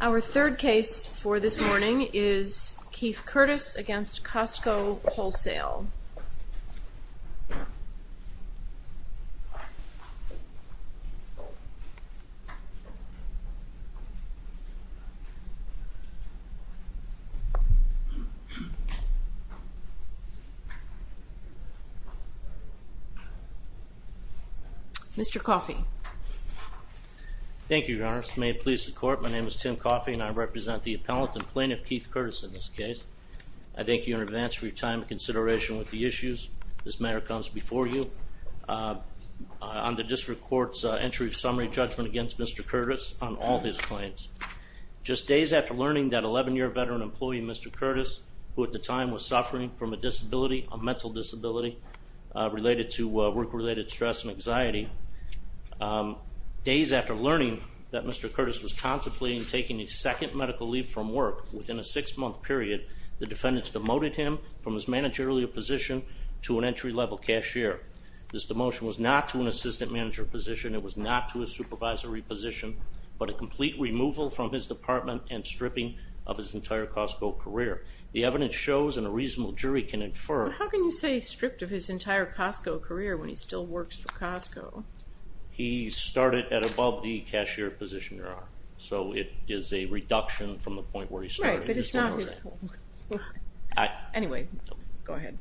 Our third case for this morning is Keith Curtis v. Costco Wholesale. Mr. Coffey. Thank you, Your Honor. May it please the court, my name is Tim Coffey and I represent the appellant and plaintiff Keith Curtis in this case. I thank you in advance for your time and consideration with the issues. This matter comes before you on the district court's entry of summary judgment against Mr. Curtis on all his claims. Just days after learning that 11-year veteran employee Mr. Curtis, who at the time was suffering from a disability, a mental disability, related to work-related stress and anxiety, days after learning that Mr. Curtis was contemplating taking a second medical leave from work within a six-month period, the defendants demoted him from his managerial position to an entry-level cashier. This demotion was not to an assistant manager position, it was not to a supervisory position, but a complete removal from his department and stripping of his entire Costco career. The evidence shows, and a reasonable jury can infer... But how can you say stripped of his entire Costco career when he still works for Costco? He started at above the cashier position, Your Honor. So it is a reduction from the point where he started. Right, but it's not his... Anyway, go ahead.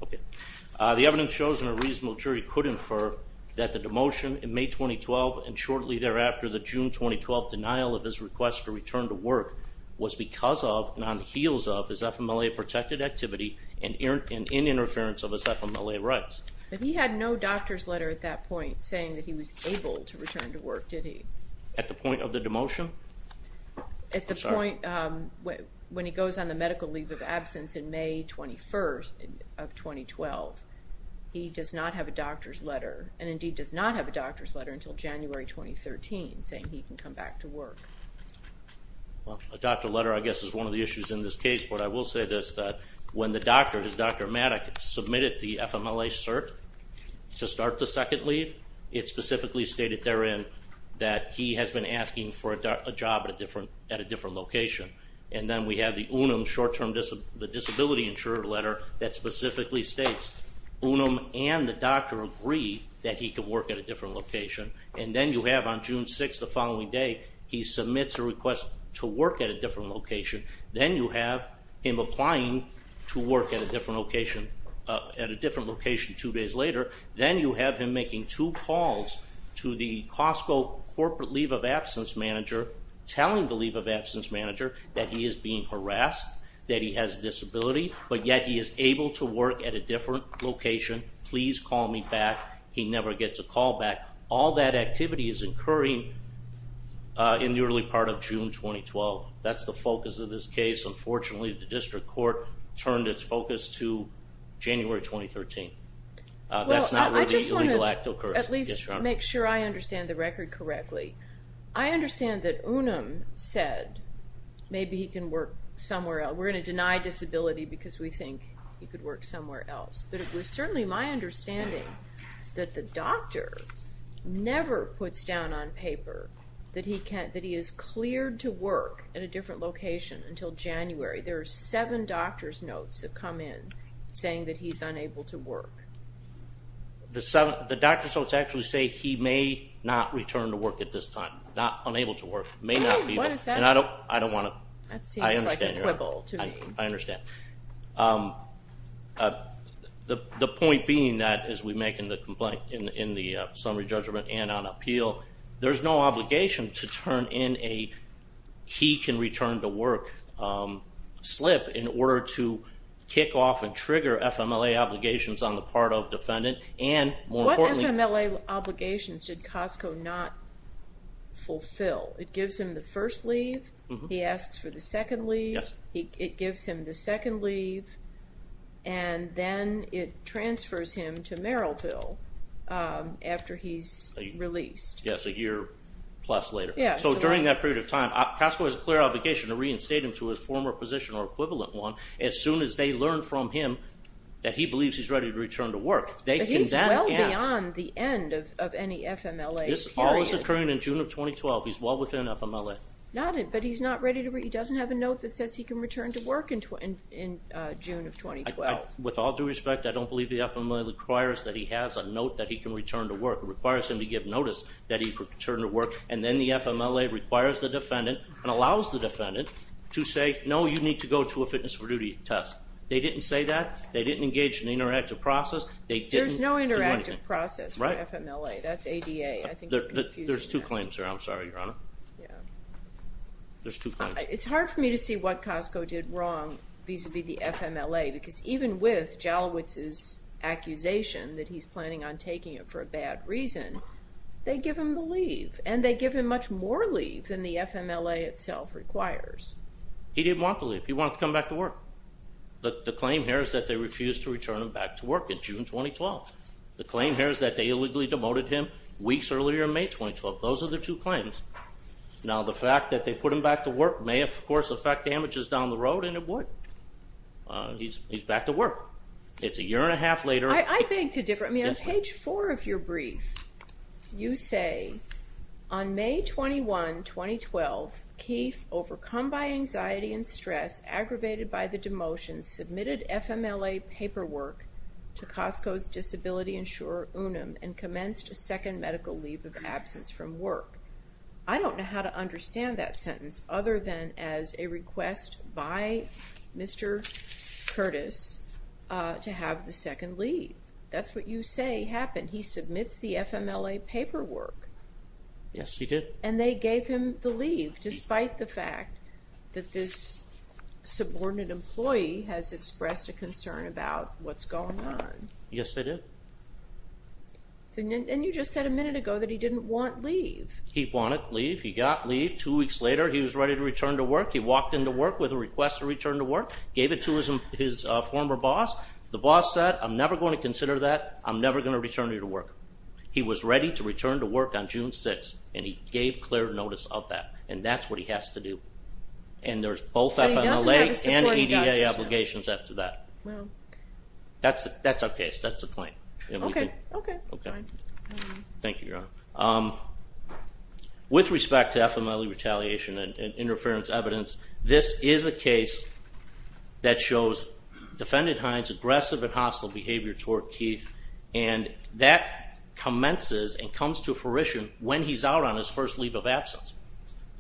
The evidence shows, and a reasonable jury could infer, that the demotion in May 2012 and shortly thereafter the June 2012 denial of his request to return to work was because of and on the heels of his FMLA-protected activity and in interference of his FMLA rights. But he had no doctor's letter at that point saying that he was able to return to work, did he? At the point of the demotion? At the point when he goes on the medical leave of absence in May 21st of 2012, he does not have a doctor's letter, and indeed does not have a doctor's letter until January 2013 saying he can come back to work. Well, a doctor's letter I guess is one of the issues in this case, but I will say this, that when the doctor, Dr. Maddock, submitted the FMLA cert to start the second leave, it specifically stated therein that he has been asking for a job at a different location. And then we have the UNUM short-term disability insurer letter that specifically states UNUM and the doctor agree that he can work at a different location. And then you have on June 6th the following day, he submits a request to work at a different location. Then you have him applying to work at a different location two days later. Then you have him making two calls to the Costco corporate leave of absence manager telling the leave of absence manager that he is being harassed, that he has a disability, but yet he is able to work at a different location. Please call me back. He never gets a call back. All that activity is occurring in the early part of June 2012. That's the focus of this case. Unfortunately, the district court turned its focus to January 2013. That's not where the illegal act occurs. Well, I just want to at least make sure I understand the record correctly. I understand that UNUM said maybe he can work somewhere else. We're going to deny disability because we think he could work somewhere else. But it was certainly my understanding that the doctor never puts down on paper that he is cleared to work at a different location until January. There are seven doctor's notes that come in saying that he's unable to work. The doctor's notes actually say he may not return to work at this time. Not unable to work. What does that mean? I don't want to. That seems like a quibble to me. I understand. The point being that, as we make in the summary judgment and on appeal, there's no obligation to turn in a he can return to work slip in order to kick off and trigger FMLA obligations on the part of defendant. What FMLA obligations did Costco not fulfill? It gives him the first leave. He asks for the second leave. It gives him the second leave, and then it transfers him to Merrillville after he's released. Yes, a year plus later. So during that period of time, Costco has a clear obligation to reinstate him to his former position or equivalent one as soon as they learn from him that he believes he's ready to return to work. But he's well beyond the end of any FMLA period. This all was occurring in June of 2012. He's well within FMLA. But he doesn't have a note that says he can return to work in June of 2012. With all due respect, I don't believe the FMLA requires that he has a note that he can return to work. It requires him to give notice that he can return to work, and then the FMLA requires the defendant and allows the defendant to say, no, you need to go to a fitness for duty test. They didn't say that. They didn't engage in an interactive process. There's no interactive process for FMLA. That's ADA. There's two claims here. I'm sorry, Your Honor. Yeah. There's two claims. It's hard for me to see what Costco did wrong vis-à-vis the FMLA because even with Jalowitz's accusation that he's planning on taking it for a bad reason, they give him the leave. And they give him much more leave than the FMLA itself requires. He didn't want the leave. He wanted to come back to work. The claim here is that they refused to return him back to work in June 2012. The claim here is that they illegally demoted him weeks earlier in May 2012. Those are the two claims. Now, the fact that they put him back to work may, of course, affect damages down the road, and it would. He's back to work. It's a year and a half later. I beg to differ. I mean, on page 4 of your brief, you say, On May 21, 2012, Keith, overcome by anxiety and stress, aggravated by the demotion, submitted FMLA paperwork to Costco's disability insurer, Unum, and commenced a second medical leave of absence from work. I don't know how to understand that sentence other than as a request by Mr. Curtis to have the second leave. That's what you say happened. He submits the FMLA paperwork. Yes, he did. And they gave him the leave despite the fact that this subordinate employee has expressed a concern about what's going on. Yes, they did. And you just said a minute ago that he didn't want leave. He wanted leave. He got leave. Two weeks later, he was ready to return to work. He walked into work with a request to return to work, gave it to his former boss. The boss said, I'm never going to consider that. I'm never going to return to work. He was ready to return to work on June 6th, and he gave clear notice of that. And that's what he has to do. And there's both FMLA and EDA obligations after that. That's a case. Okay. Okay. Thank you, Your Honor. With respect to FMLA retaliation and interference evidence, this is a case that shows Defendant Hines' aggressive and hostile behavior toward Keith, and that commences and comes to fruition when he's out on his first leave of absence.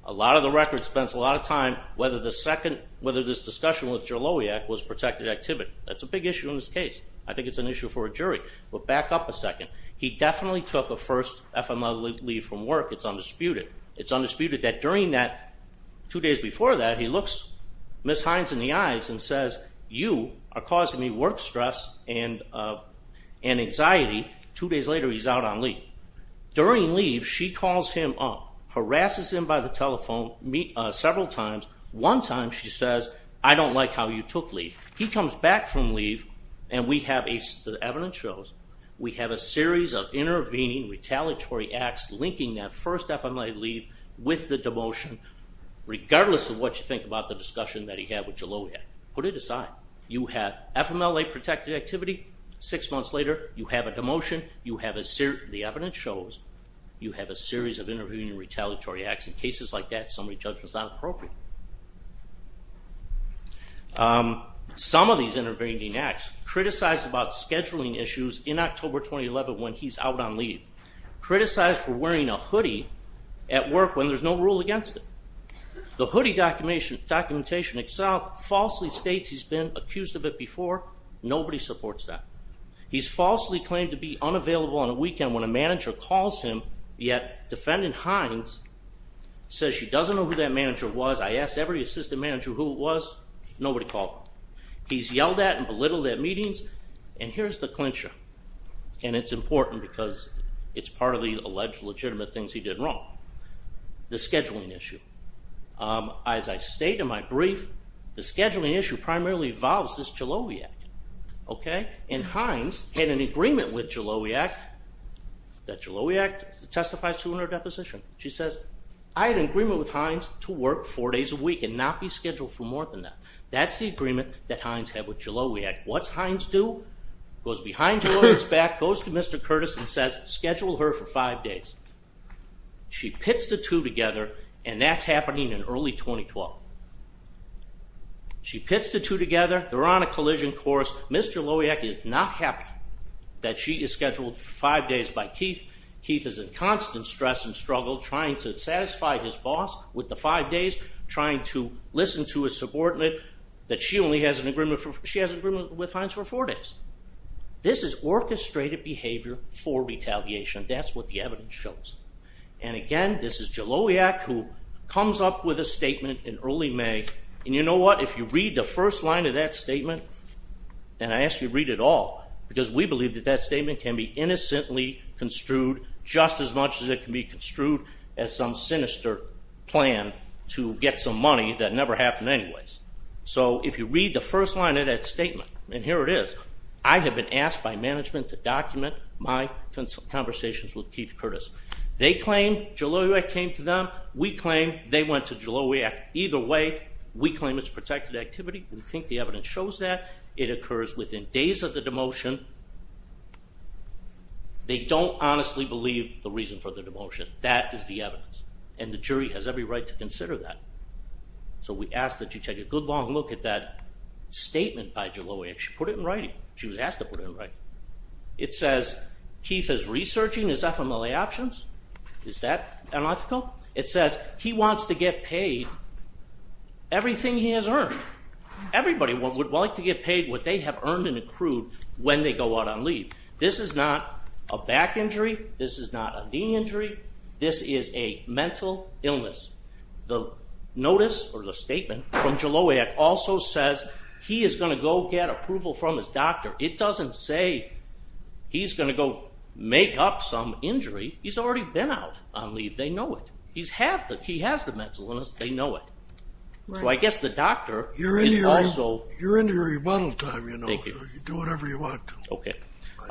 A lot of the record spends a lot of time whether this discussion with Jalowiak was protected activity. That's a big issue in this case. I think it's an issue for a jury. But back up a second. He definitely took a first FMLA leave from work. It's undisputed. It's undisputed that during that, two days before that, he looks Ms. Hines in the eyes and says, you are causing me work stress and anxiety. Two days later, he's out on leave. During leave, she calls him up, harasses him by the telephone several times. One time, she says, I don't like how you took leave. He comes back from leave, and we have, as the evidence shows, we have a series of intervening retaliatory acts linking that first FMLA leave with the demotion, regardless of what you think about the discussion that he had with Jalowiak. Put it aside. You have FMLA protected activity. Six months later, you have a demotion. The evidence shows you have a series of intervening retaliatory acts. In cases like that, summary judgment is not appropriate. Some of these intervening acts criticize about scheduling issues in October 2011 when he's out on leave, criticize for wearing a hoodie at work when there's no rule against it. The hoodie documentation itself falsely states he's been accused of it before. Nobody supports that. He's falsely claimed to be unavailable on a weekend when a manager calls him, yet defendant Hines says she doesn't know who that manager was. I asked every assistant manager who it was. Nobody called him. He's yelled at and belittled at meetings, and here's the clincher, and it's important because it's part of the alleged legitimate things he did wrong, the scheduling issue. As I state in my brief, the scheduling issue primarily involves this Jalowiak, okay? And Hines had an agreement with Jalowiak that Jalowiak testifies to in her deposition. She says, I had an agreement with Hines to work four days a week and not be scheduled for more than that. That's the agreement that Hines had with Jalowiak. What's Hines do? Goes behind Jalowiak's back, goes to Mr. Curtis and says, schedule her for five days. She pits the two together, and that's happening in early 2012. She pits the two together. They're on a collision course. Ms. Jalowiak is not happy that she is scheduled for five days by Keith. Keith is in constant stress and struggle trying to satisfy his boss with the five days, trying to listen to his subordinate that she only has an agreement with Hines for four days. This is orchestrated behavior for retaliation. That's what the evidence shows. And again, this is Jalowiak who comes up with a statement in early May, and you know what? If you read the first line of that statement, and I ask you to read it all, because we believe that that statement can be innocently construed just as much as it can be construed as some sinister plan to get some money that never happened anyways. So if you read the first line of that statement, and here it is, I have been asked by management to document my conversations with Keith Curtis. They claim Jalowiak came to them. We claim they went to Jalowiak. Either way, we claim it's protected activity. We think the evidence shows that. It occurs within days of the demotion. They don't honestly believe the reason for the demotion. That is the evidence, and the jury has every right to consider that. So we ask that you take a good long look at that statement by Jalowiak. She put it in writing. She was asked to put it in writing. It says Keith is researching his FMLA options. Is that unethical? It says he wants to get paid everything he has earned. Everybody would like to get paid what they have earned and accrued when they go out on leave. This is not a back injury. This is not a knee injury. This is a mental illness. The notice or the statement from Jalowiak also says he is going to go get approval from his doctor. It doesn't say he's going to go make up some injury. He's already been out on leave. They know it. He has the mental illness. They know it. So I guess the doctor is also. You're into your rebuttal time, you know, so you do whatever you want to. Okay.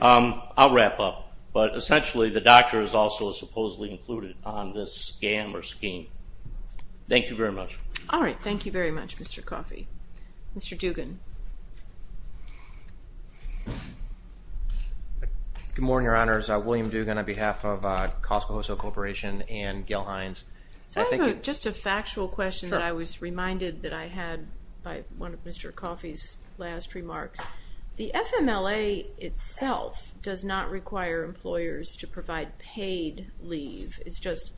I'll wrap up. But essentially the doctor is also supposedly included on this scam or scheme. Thank you very much. All right. Thank you very much, Mr. Coffey. Mr. Dugan. Good morning, Your Honors. I'm William Dugan on behalf of Costco Hostel Corporation and Gail Hines. So I have just a factual question that I was reminded that I had by one of Mr. Coffey's last remarks. The FMLA itself does not require employers to provide paid leave. It's just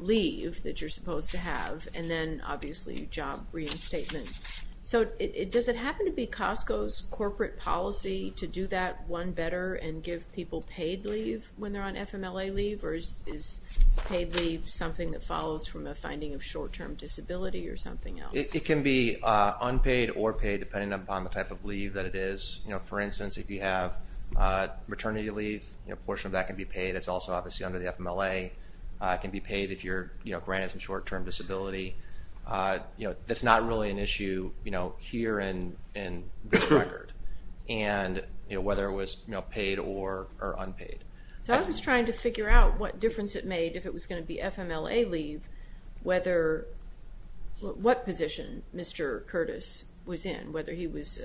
leave that you're supposed to have and then, obviously, job reinstatement. So does it happen to be Costco's corporate policy to do that one better and give people paid leave when they're on FMLA leave, or is paid leave something that follows from a finding of short-term disability or something else? It can be unpaid or paid depending upon the type of leave that it is. For instance, if you have maternity leave, a portion of that can be paid. It's also obviously under the FMLA. It can be paid if you're granted some short-term disability. That's not really an issue here in this record, whether it was paid or unpaid. So I was trying to figure out what difference it made if it was going to be FMLA leave, what position Mr. Curtis was in, whether he was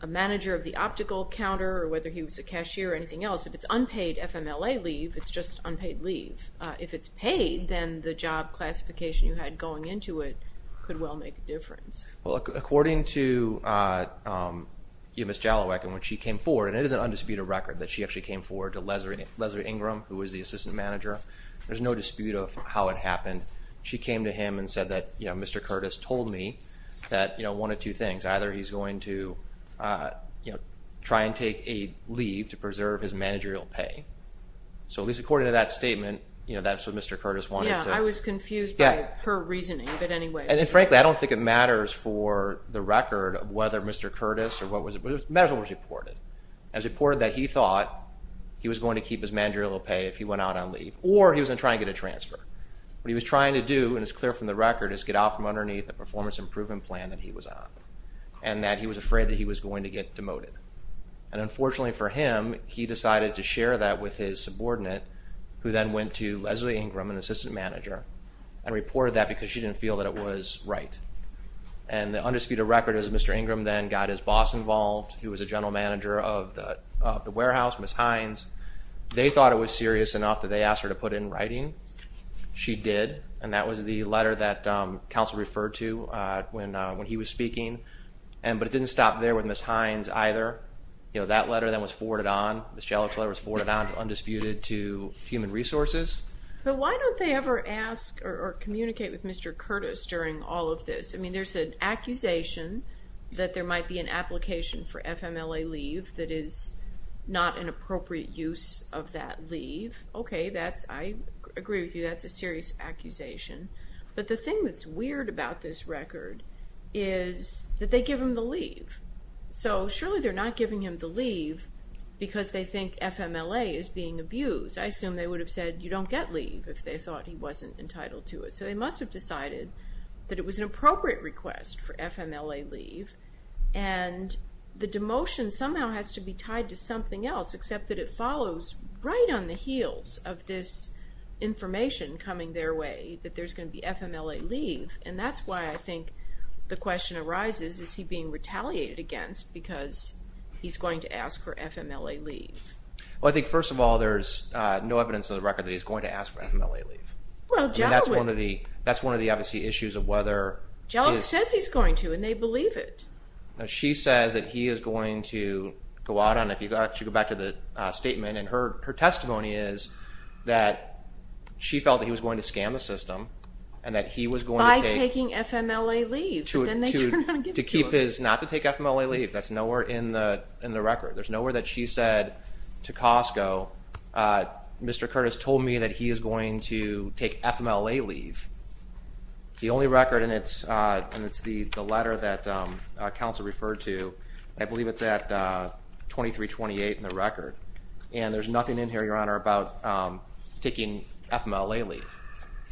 a manager of the optical counter or whether he was a cashier or anything else. If it's unpaid FMLA leave, it's just unpaid leave. If it's paid, then the job classification you had going into it could well make a difference. According to Ms. Jalowek, and when she came forward, and it is an undisputed record that she actually came forward to Leslie Ingram, who was the assistant manager. There's no dispute of how it happened. She came to him and said that Mr. Curtis told me one of two things. Either he's going to try and take a leave to preserve his managerial pay. So at least according to that statement, that's what Mr. Curtis wanted to do. Yeah, I was confused by her reasoning, but anyway. And frankly, I don't think it matters for the record whether Mr. Curtis or what was it, it matters what was reported. It was reported that he thought he was going to keep his managerial pay if he went out on leave or he was going to try and get a transfer. What he was trying to do, and it's clear from the record, is get out from underneath the performance improvement plan that he was on and that he was afraid that he was going to get demoted. And unfortunately for him, he decided to share that with his subordinate, who then went to Leslie Ingram, an assistant manager, and reported that because she didn't feel that it was right. And the undisputed record is Mr. Ingram then got his boss involved, who was a general manager of the warehouse, Ms. Hines. They thought it was serious enough that they asked her to put it in writing. She did, and that was the letter that counsel referred to when he was speaking. But it didn't stop there with Ms. Hines either. That letter then was forwarded on. Ms. Jellick's letter was forwarded on to Undisputed to Human Resources. But why don't they ever ask or communicate with Mr. Curtis during all of this? I mean, there's an accusation that there might be an application for FMLA leave that is not an appropriate use of that leave. Okay, I agree with you. That's a serious accusation. But the thing that's weird about this record is that they give him the leave. So surely they're not giving him the leave because they think FMLA is being abused. I assume they would have said, you don't get leave if they thought he wasn't entitled to it. So they must have decided that it was an appropriate request for FMLA leave. And the demotion somehow has to be tied to something else, except that it follows right on the heels of this information coming their way that there's going to be FMLA leave. And that's why I think the question arises, is he being retaliated against because he's going to ask for FMLA leave? Well, I think, first of all, there's no evidence on the record that he's going to ask for FMLA leave. And that's one of the obvious issues of whether he is. Jellick says he's going to, and they believe it. She says that he is going to go out on it. She'll go back to the statement. And her testimony is that she felt that he was going to scam the system and that he was going to take. By taking FMLA leave. To keep his not to take FMLA leave. That's nowhere in the record. There's nowhere that she said to Costco, Mr. Curtis told me that he is going to take FMLA leave. The only record, and it's the letter that counsel referred to, I believe it's at 2328 in the record, and there's nothing in here, Your Honor, about taking FMLA leave.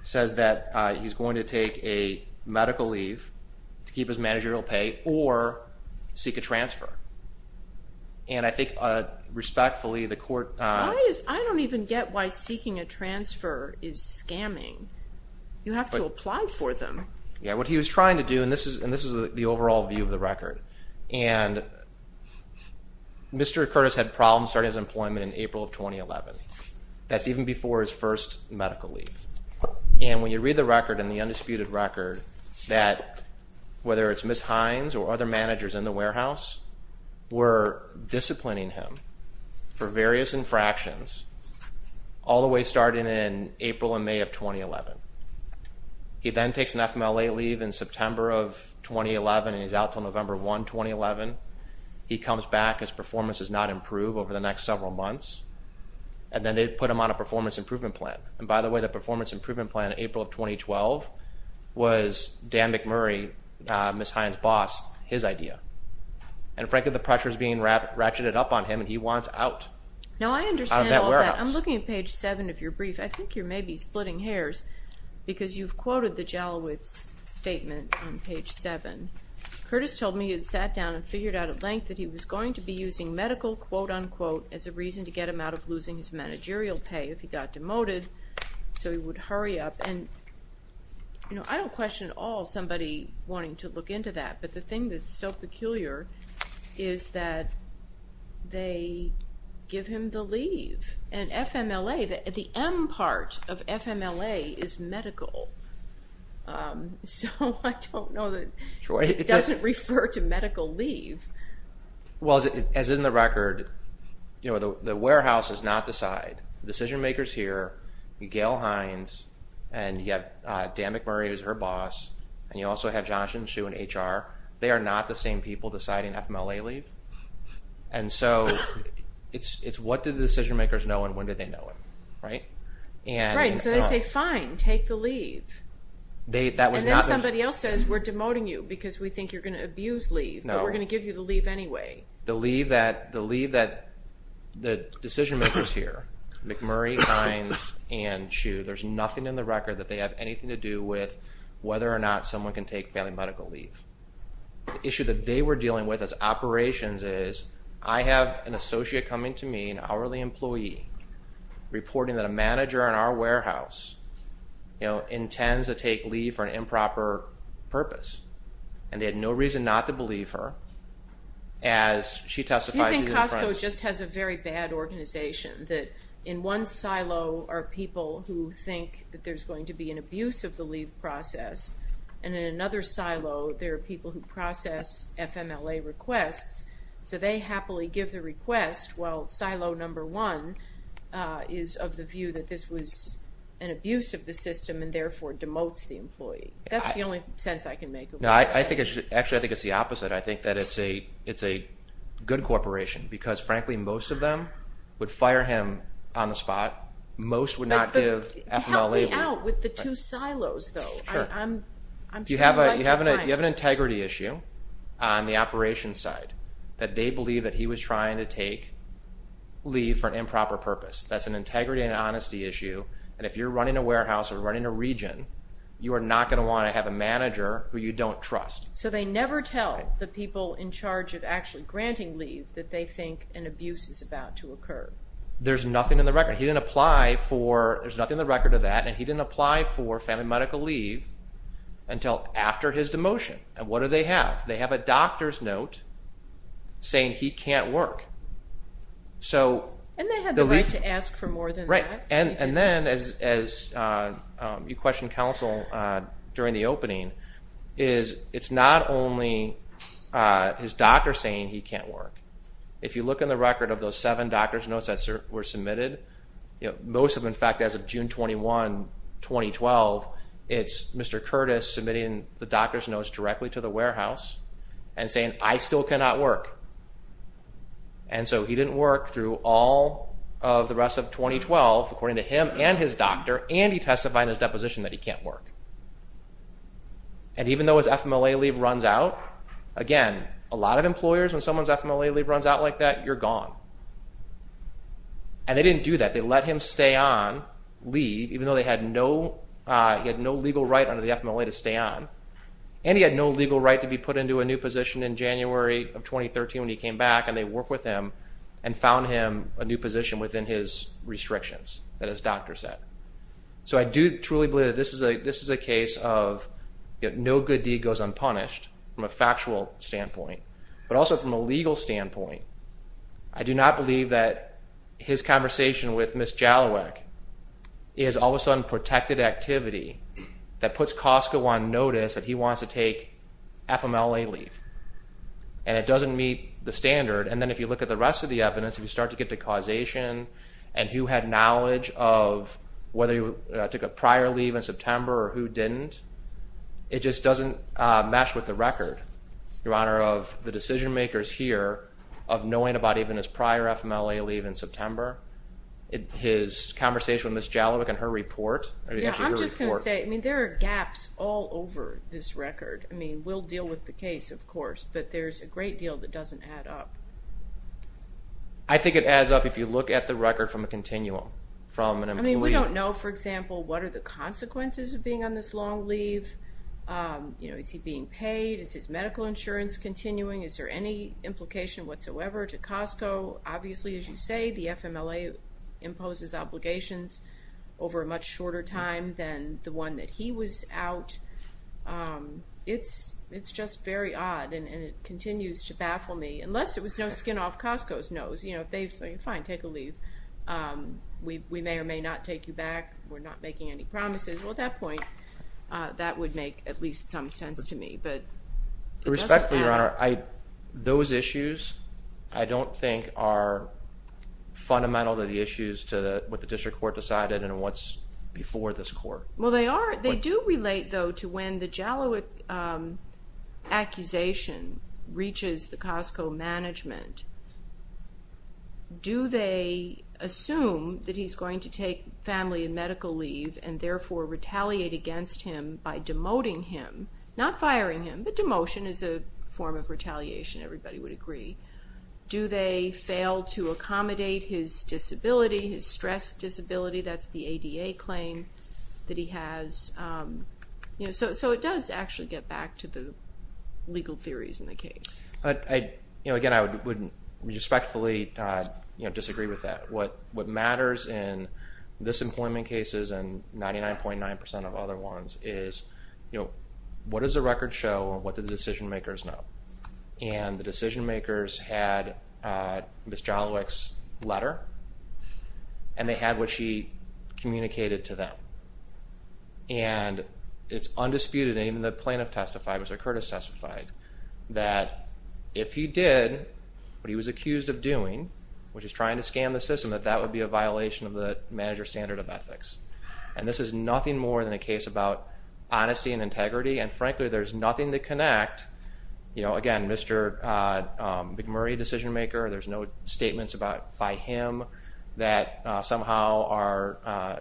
It says that he's going to take a medical leave to keep his managerial pay or seek a transfer. And I think, respectfully, the court. I don't even get why seeking a transfer is scamming. You have to apply for them. Yeah, what he was trying to do, and this is the overall view of the record, and Mr. Curtis had problems starting his employment in April of 2011. That's even before his first medical leave. And when you read the record and the undisputed record, that whether it's Ms. Hines or other managers in the warehouse, were disciplining him for various infractions all the way starting in April and May of 2011. He then takes an FMLA leave in September of 2011 and he's out until November 1, 2011. He comes back. His performance does not improve over the next several months. And then they put him on a performance improvement plan. And by the way, the performance improvement plan in April of 2012 was Dan McMurray, Ms. Hines' boss, his idea. And frankly, the pressure is being ratcheted up on him, and he wants out of that warehouse. No, I understand all that. I'm looking at page 7 of your brief. I think you may be splitting hairs because you've quoted the Jalowitz statement on page 7. Curtis told me he had sat down and figured out at length that he was going to be using medical, quote-unquote, as a reason to get him out of losing his managerial pay if he got demoted so he would hurry up. And I don't question at all somebody wanting to look into that, but the thing that's so peculiar is that they give him the leave. And FMLA, the M part of FMLA is medical. So I don't know that it doesn't refer to medical leave. Well, as in the record, the warehouse does not decide. The decision-maker is here, Gail Hines, and you have Dan McMurray, who's her boss, and you also have Jonathan Shue in HR. They are not the same people deciding FMLA leave. And so it's what do the decision-makers know and when do they know it, right? Right, and so they say, fine, take the leave. And then somebody else says, we're demoting you because we think you're going to abuse leave, but we're going to give you the leave anyway. The leave that the decision-maker is here, McMurray, Hines, and Shue, there's nothing in the record that they have anything to do with whether or not someone can take family medical leave. The issue that they were dealing with as operations is, I have an associate coming to me, an hourly employee, reporting that a manager in our warehouse intends to take leave for an improper purpose. And they had no reason not to believe her as she testified. Do you think Costco just has a very bad organization that in one silo are people who think that there's going to be an abuse of the leave process, and in another silo there are people who process FMLA requests, so they happily give the request, while silo number one is of the view that this was an abuse of the system and therefore demotes the employee? That's the only sense I can make. Actually, I think it's the opposite. I think that it's a good corporation because, frankly, most of them would fire him on the spot. Most would not give FMLA leave. Help me out with the two silos, though. You have an integrity issue on the operations side that they believe that he was trying to take leave for an improper purpose. That's an integrity and honesty issue, and if you're running a warehouse or running a region, you are not going to want to have a manager who you don't trust. So they never tell the people in charge of actually granting leave that they think an abuse is about to occur. There's nothing in the record. He didn't apply for, there's nothing in the record of that, and he didn't apply for family medical leave until after his demotion. What do they have? They have a doctor's note saying he can't work. And they have the right to ask for more than that. Right, and then, as you questioned counsel during the opening, it's not only his doctor saying he can't work. If you look in the record of those seven doctor's notes that were submitted, most of them, in fact, as of June 21, 2012, it's Mr. Curtis submitting the doctor's notes directly to the warehouse and saying, I still cannot work. And so he didn't work through all of the rest of 2012, according to him and his doctor, and he testified in his deposition that he can't work. And even though his FMLA leave runs out, again, a lot of employers, when someone's FMLA leave runs out like that, you're gone. And they didn't do that. They let him stay on, leave, even though he had no legal right under the FMLA to stay on. And he had no legal right to be put into a new position in January of 2013 when he came back, and they worked with him and found him a new position within his restrictions that his doctor said. So I do truly believe that this is a case of no good deed goes unpunished from a factual standpoint. But also from a legal standpoint, I do not believe that his conversation with Ms. Jalouek is all of a sudden protected activity that puts Costco on notice that he wants to take FMLA leave. And it doesn't meet the standard. And then if you look at the rest of the evidence, if you start to get to causation and who had knowledge of whether he took a prior leave in September or who didn't, it just doesn't mesh with the record, Your Honor, of the decision-makers here of knowing about even his prior FMLA leave in September, his conversation with Ms. Jalouek and her report. Yeah, I'm just going to say, I mean, there are gaps all over this record. I mean, we'll deal with the case, of course, but there's a great deal that doesn't add up. I think it adds up if you look at the record from a continuum, from an employee. I mean, we don't know, for example, what are the consequences of being on this long leave. You know, is he being paid? Is his medical insurance continuing? Is there any implication whatsoever to Costco? Obviously, as you say, the FMLA imposes obligations over a much shorter time than the one that he was out. It's just very odd, and it continues to baffle me. Unless it was no skin off Costco's nose. You know, if they say, fine, take a leave. We may or may not take you back. We're not making any promises. Well, at that point, that would make at least some sense to me. But it doesn't add up. Respectfully, Your Honor, those issues, I don't think are fundamental to the issues to what the district court decided and what's before this court. Well, they are. They do relate, though, to when the Jalowicz accusation reaches the Costco management. Do they assume that he's going to take family and medical leave and therefore retaliate against him by demoting him, not firing him, but demotion is a form of retaliation, everybody would agree. Do they fail to accommodate his disability, his stress disability? That's the ADA claim that he has. So it does actually get back to the legal theories in the case. Again, I would respectfully disagree with that. What matters in this employment cases and 99.9% of other ones is, what does the record show and what do the decision makers know? And the decision makers had Ms. Jalowicz's letter and they had what she communicated to them. And it's undisputed, and even the plaintiff testified, Mr. Curtis testified, that if he did what he was accused of doing, which is trying to scam the system, that that would be a violation of the manager's standard of ethics. And this is nothing more than a case about honesty and integrity, and frankly there's nothing to connect. Again, Mr. McMurray, decision maker, there's no statements by him that somehow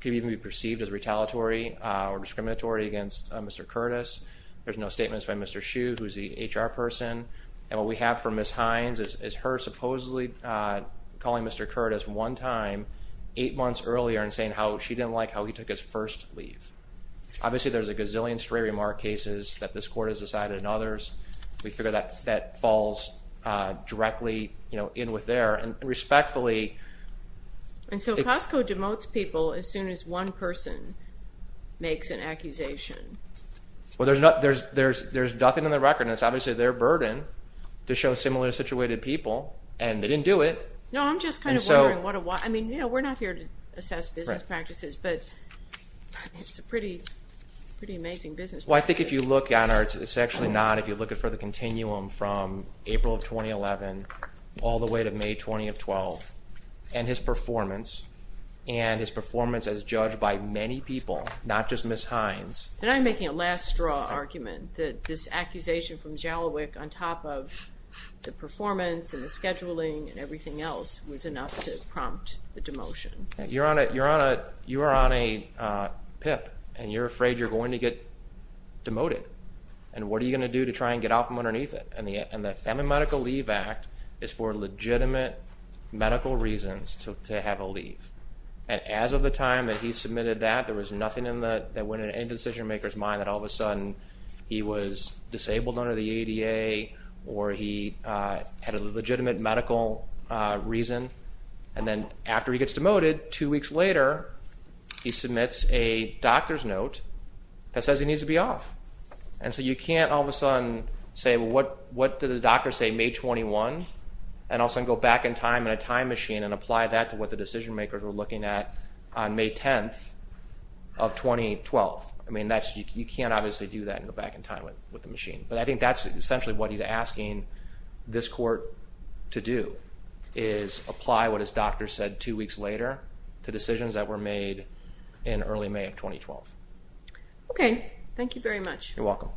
could even be perceived as retaliatory or discriminatory against Mr. Curtis. There's no statements by Mr. Hsu, who's the HR person. And what we have for Ms. Hines is her supposedly calling Mr. Curtis one time eight months earlier and saying she didn't like how he took his first leave. Obviously there's a gazillion stray remark cases that this court has decided and others, we figure that falls directly in with there. And respectfully... And so Costco demotes people as soon as one person makes an accusation. Well, there's nothing in the record, and it's obviously their burden to show similar-situated people, and they didn't do it. No, I'm just kind of wondering what a while. I mean, we're not here to assess business practices, but it's a pretty amazing business practice. Well, I think if you look at it, it's actually not. If you look for the continuum from April of 2011 all the way to May 20 of 2012 and his performance, and his performance as judged by many people, not just Ms. Hines. Then I'm making a last straw argument that this accusation from Jalowick on top of the performance and the scheduling and everything else was enough to prompt the demotion. You're on a PIP, and you're afraid you're going to get demoted. And what are you going to do to try and get off from underneath it? And the Family Medical Leave Act is for legitimate medical reasons to have a leave. And as of the time that he submitted that, there was nothing that went into any decision-maker's mind that all of a sudden he was disabled under the ADA or he had a legitimate medical reason. And then after he gets demoted, two weeks later, he submits a doctor's note that says he needs to be off. And so you can't all of a sudden say, well, what did the doctor say, May 21, and all of a sudden go back in time in a time machine and apply that to what the decision-makers were looking at on May 10 of 2012. I mean, you can't obviously do that and go back in time with the machine. But I think that's essentially what he's asking this court to do is apply what his doctor said two weeks later to decisions that were made in early May of 2012. Okay. Thank you very much. You're welcome.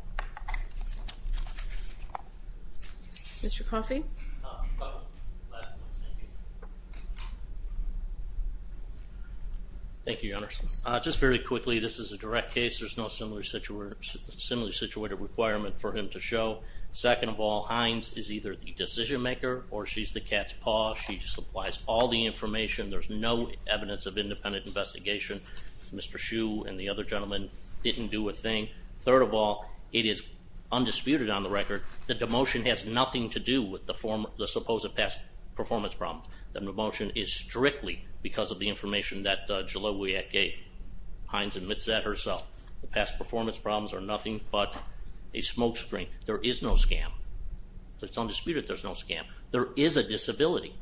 Mr. Coffey. Thank you, Your Honor. Just very quickly, this is a direct case. There's no similarly situated requirement for him to show. Second of all, Hines is either the decision-maker or she's the cat's paw. She just applies all the information. There's no evidence of independent investigation. Mr. Hsu and the other gentleman didn't do a thing. Third of all, it is undisputed on the record that demotion has nothing to do with the supposed past performance problem. The demotion is strictly because of the information that Jalowiak gave. Hines admits that herself. The past performance problems are nothing but a smokescreen. There is no scam. It's undisputed there's no scam. There is a disability.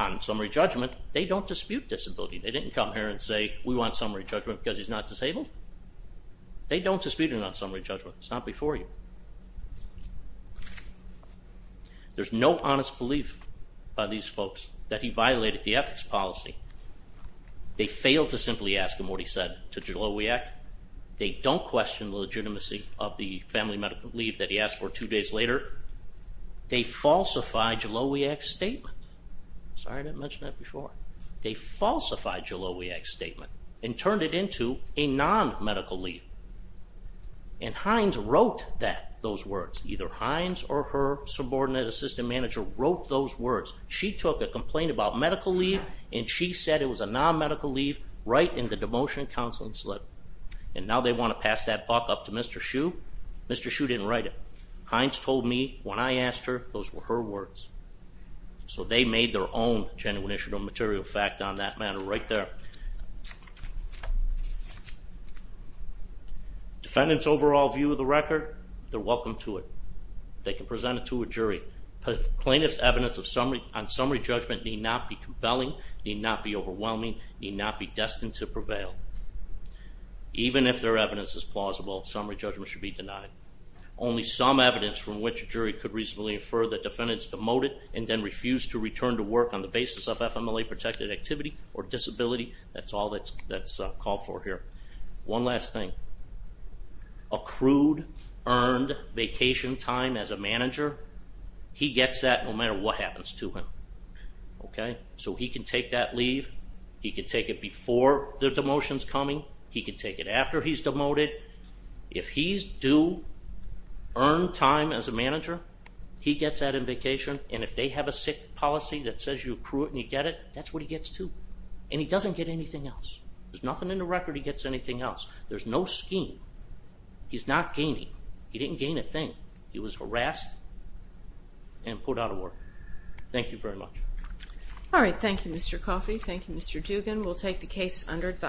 On summary judgment, they don't dispute disability. They didn't come here and say, we want summary judgment because he's not disabled. They don't dispute a non-summary judgment. It's not before you. There's no honest belief by these folks that he violated the ethics policy. They failed to simply ask him what he said to Jalowiak. They don't question the legitimacy of the family medical leave that he asked for two days later. They falsified Jalowiak's statement. Sorry, I didn't mention that before. They falsified Jalowiak's statement and turned it into a non-medical leave. And Hines wrote that, those words. Either Hines or her subordinate assistant manager wrote those words. She took a complaint about medical leave, and she said it was a non-medical leave right in the demotion counseling slip. And now they want to pass that buck up to Mr. Hsu. Mr. Hsu didn't write it. Hines told me when I asked her, those were her words. So they made their own genuine issue of material fact on that matter right there. Defendant's overall view of the record, they're welcome to it. They can present it to a jury. Plaintiff's evidence on summary judgment need not be compelling, need not be overwhelming, need not be destined to prevail. Even if their evidence is plausible, summary judgment should be denied. Only some evidence from which a jury could reasonably infer that defendant's demoted and then refused to return to work on the basis of FMLA-protected activity or disability. That's all that's called for here. One last thing. Accrued earned vacation time as a manager, he gets that no matter what happens to him. So he can take that leave. He can take it before the demotion's coming. He can take it after he's demoted. If he's due earned time as a manager, he gets that in vacation, and if they have a sick policy that says you accrue it and you get it, that's what he gets too, and he doesn't get anything else. There's nothing in the record he gets anything else. There's no scheme. He's not gaining. He didn't gain a thing. He was harassed and put out of work. Thank you very much. All right. Thank you, Mr. Coffey. Thank you, Mr. Dugan. We'll take the case under advice.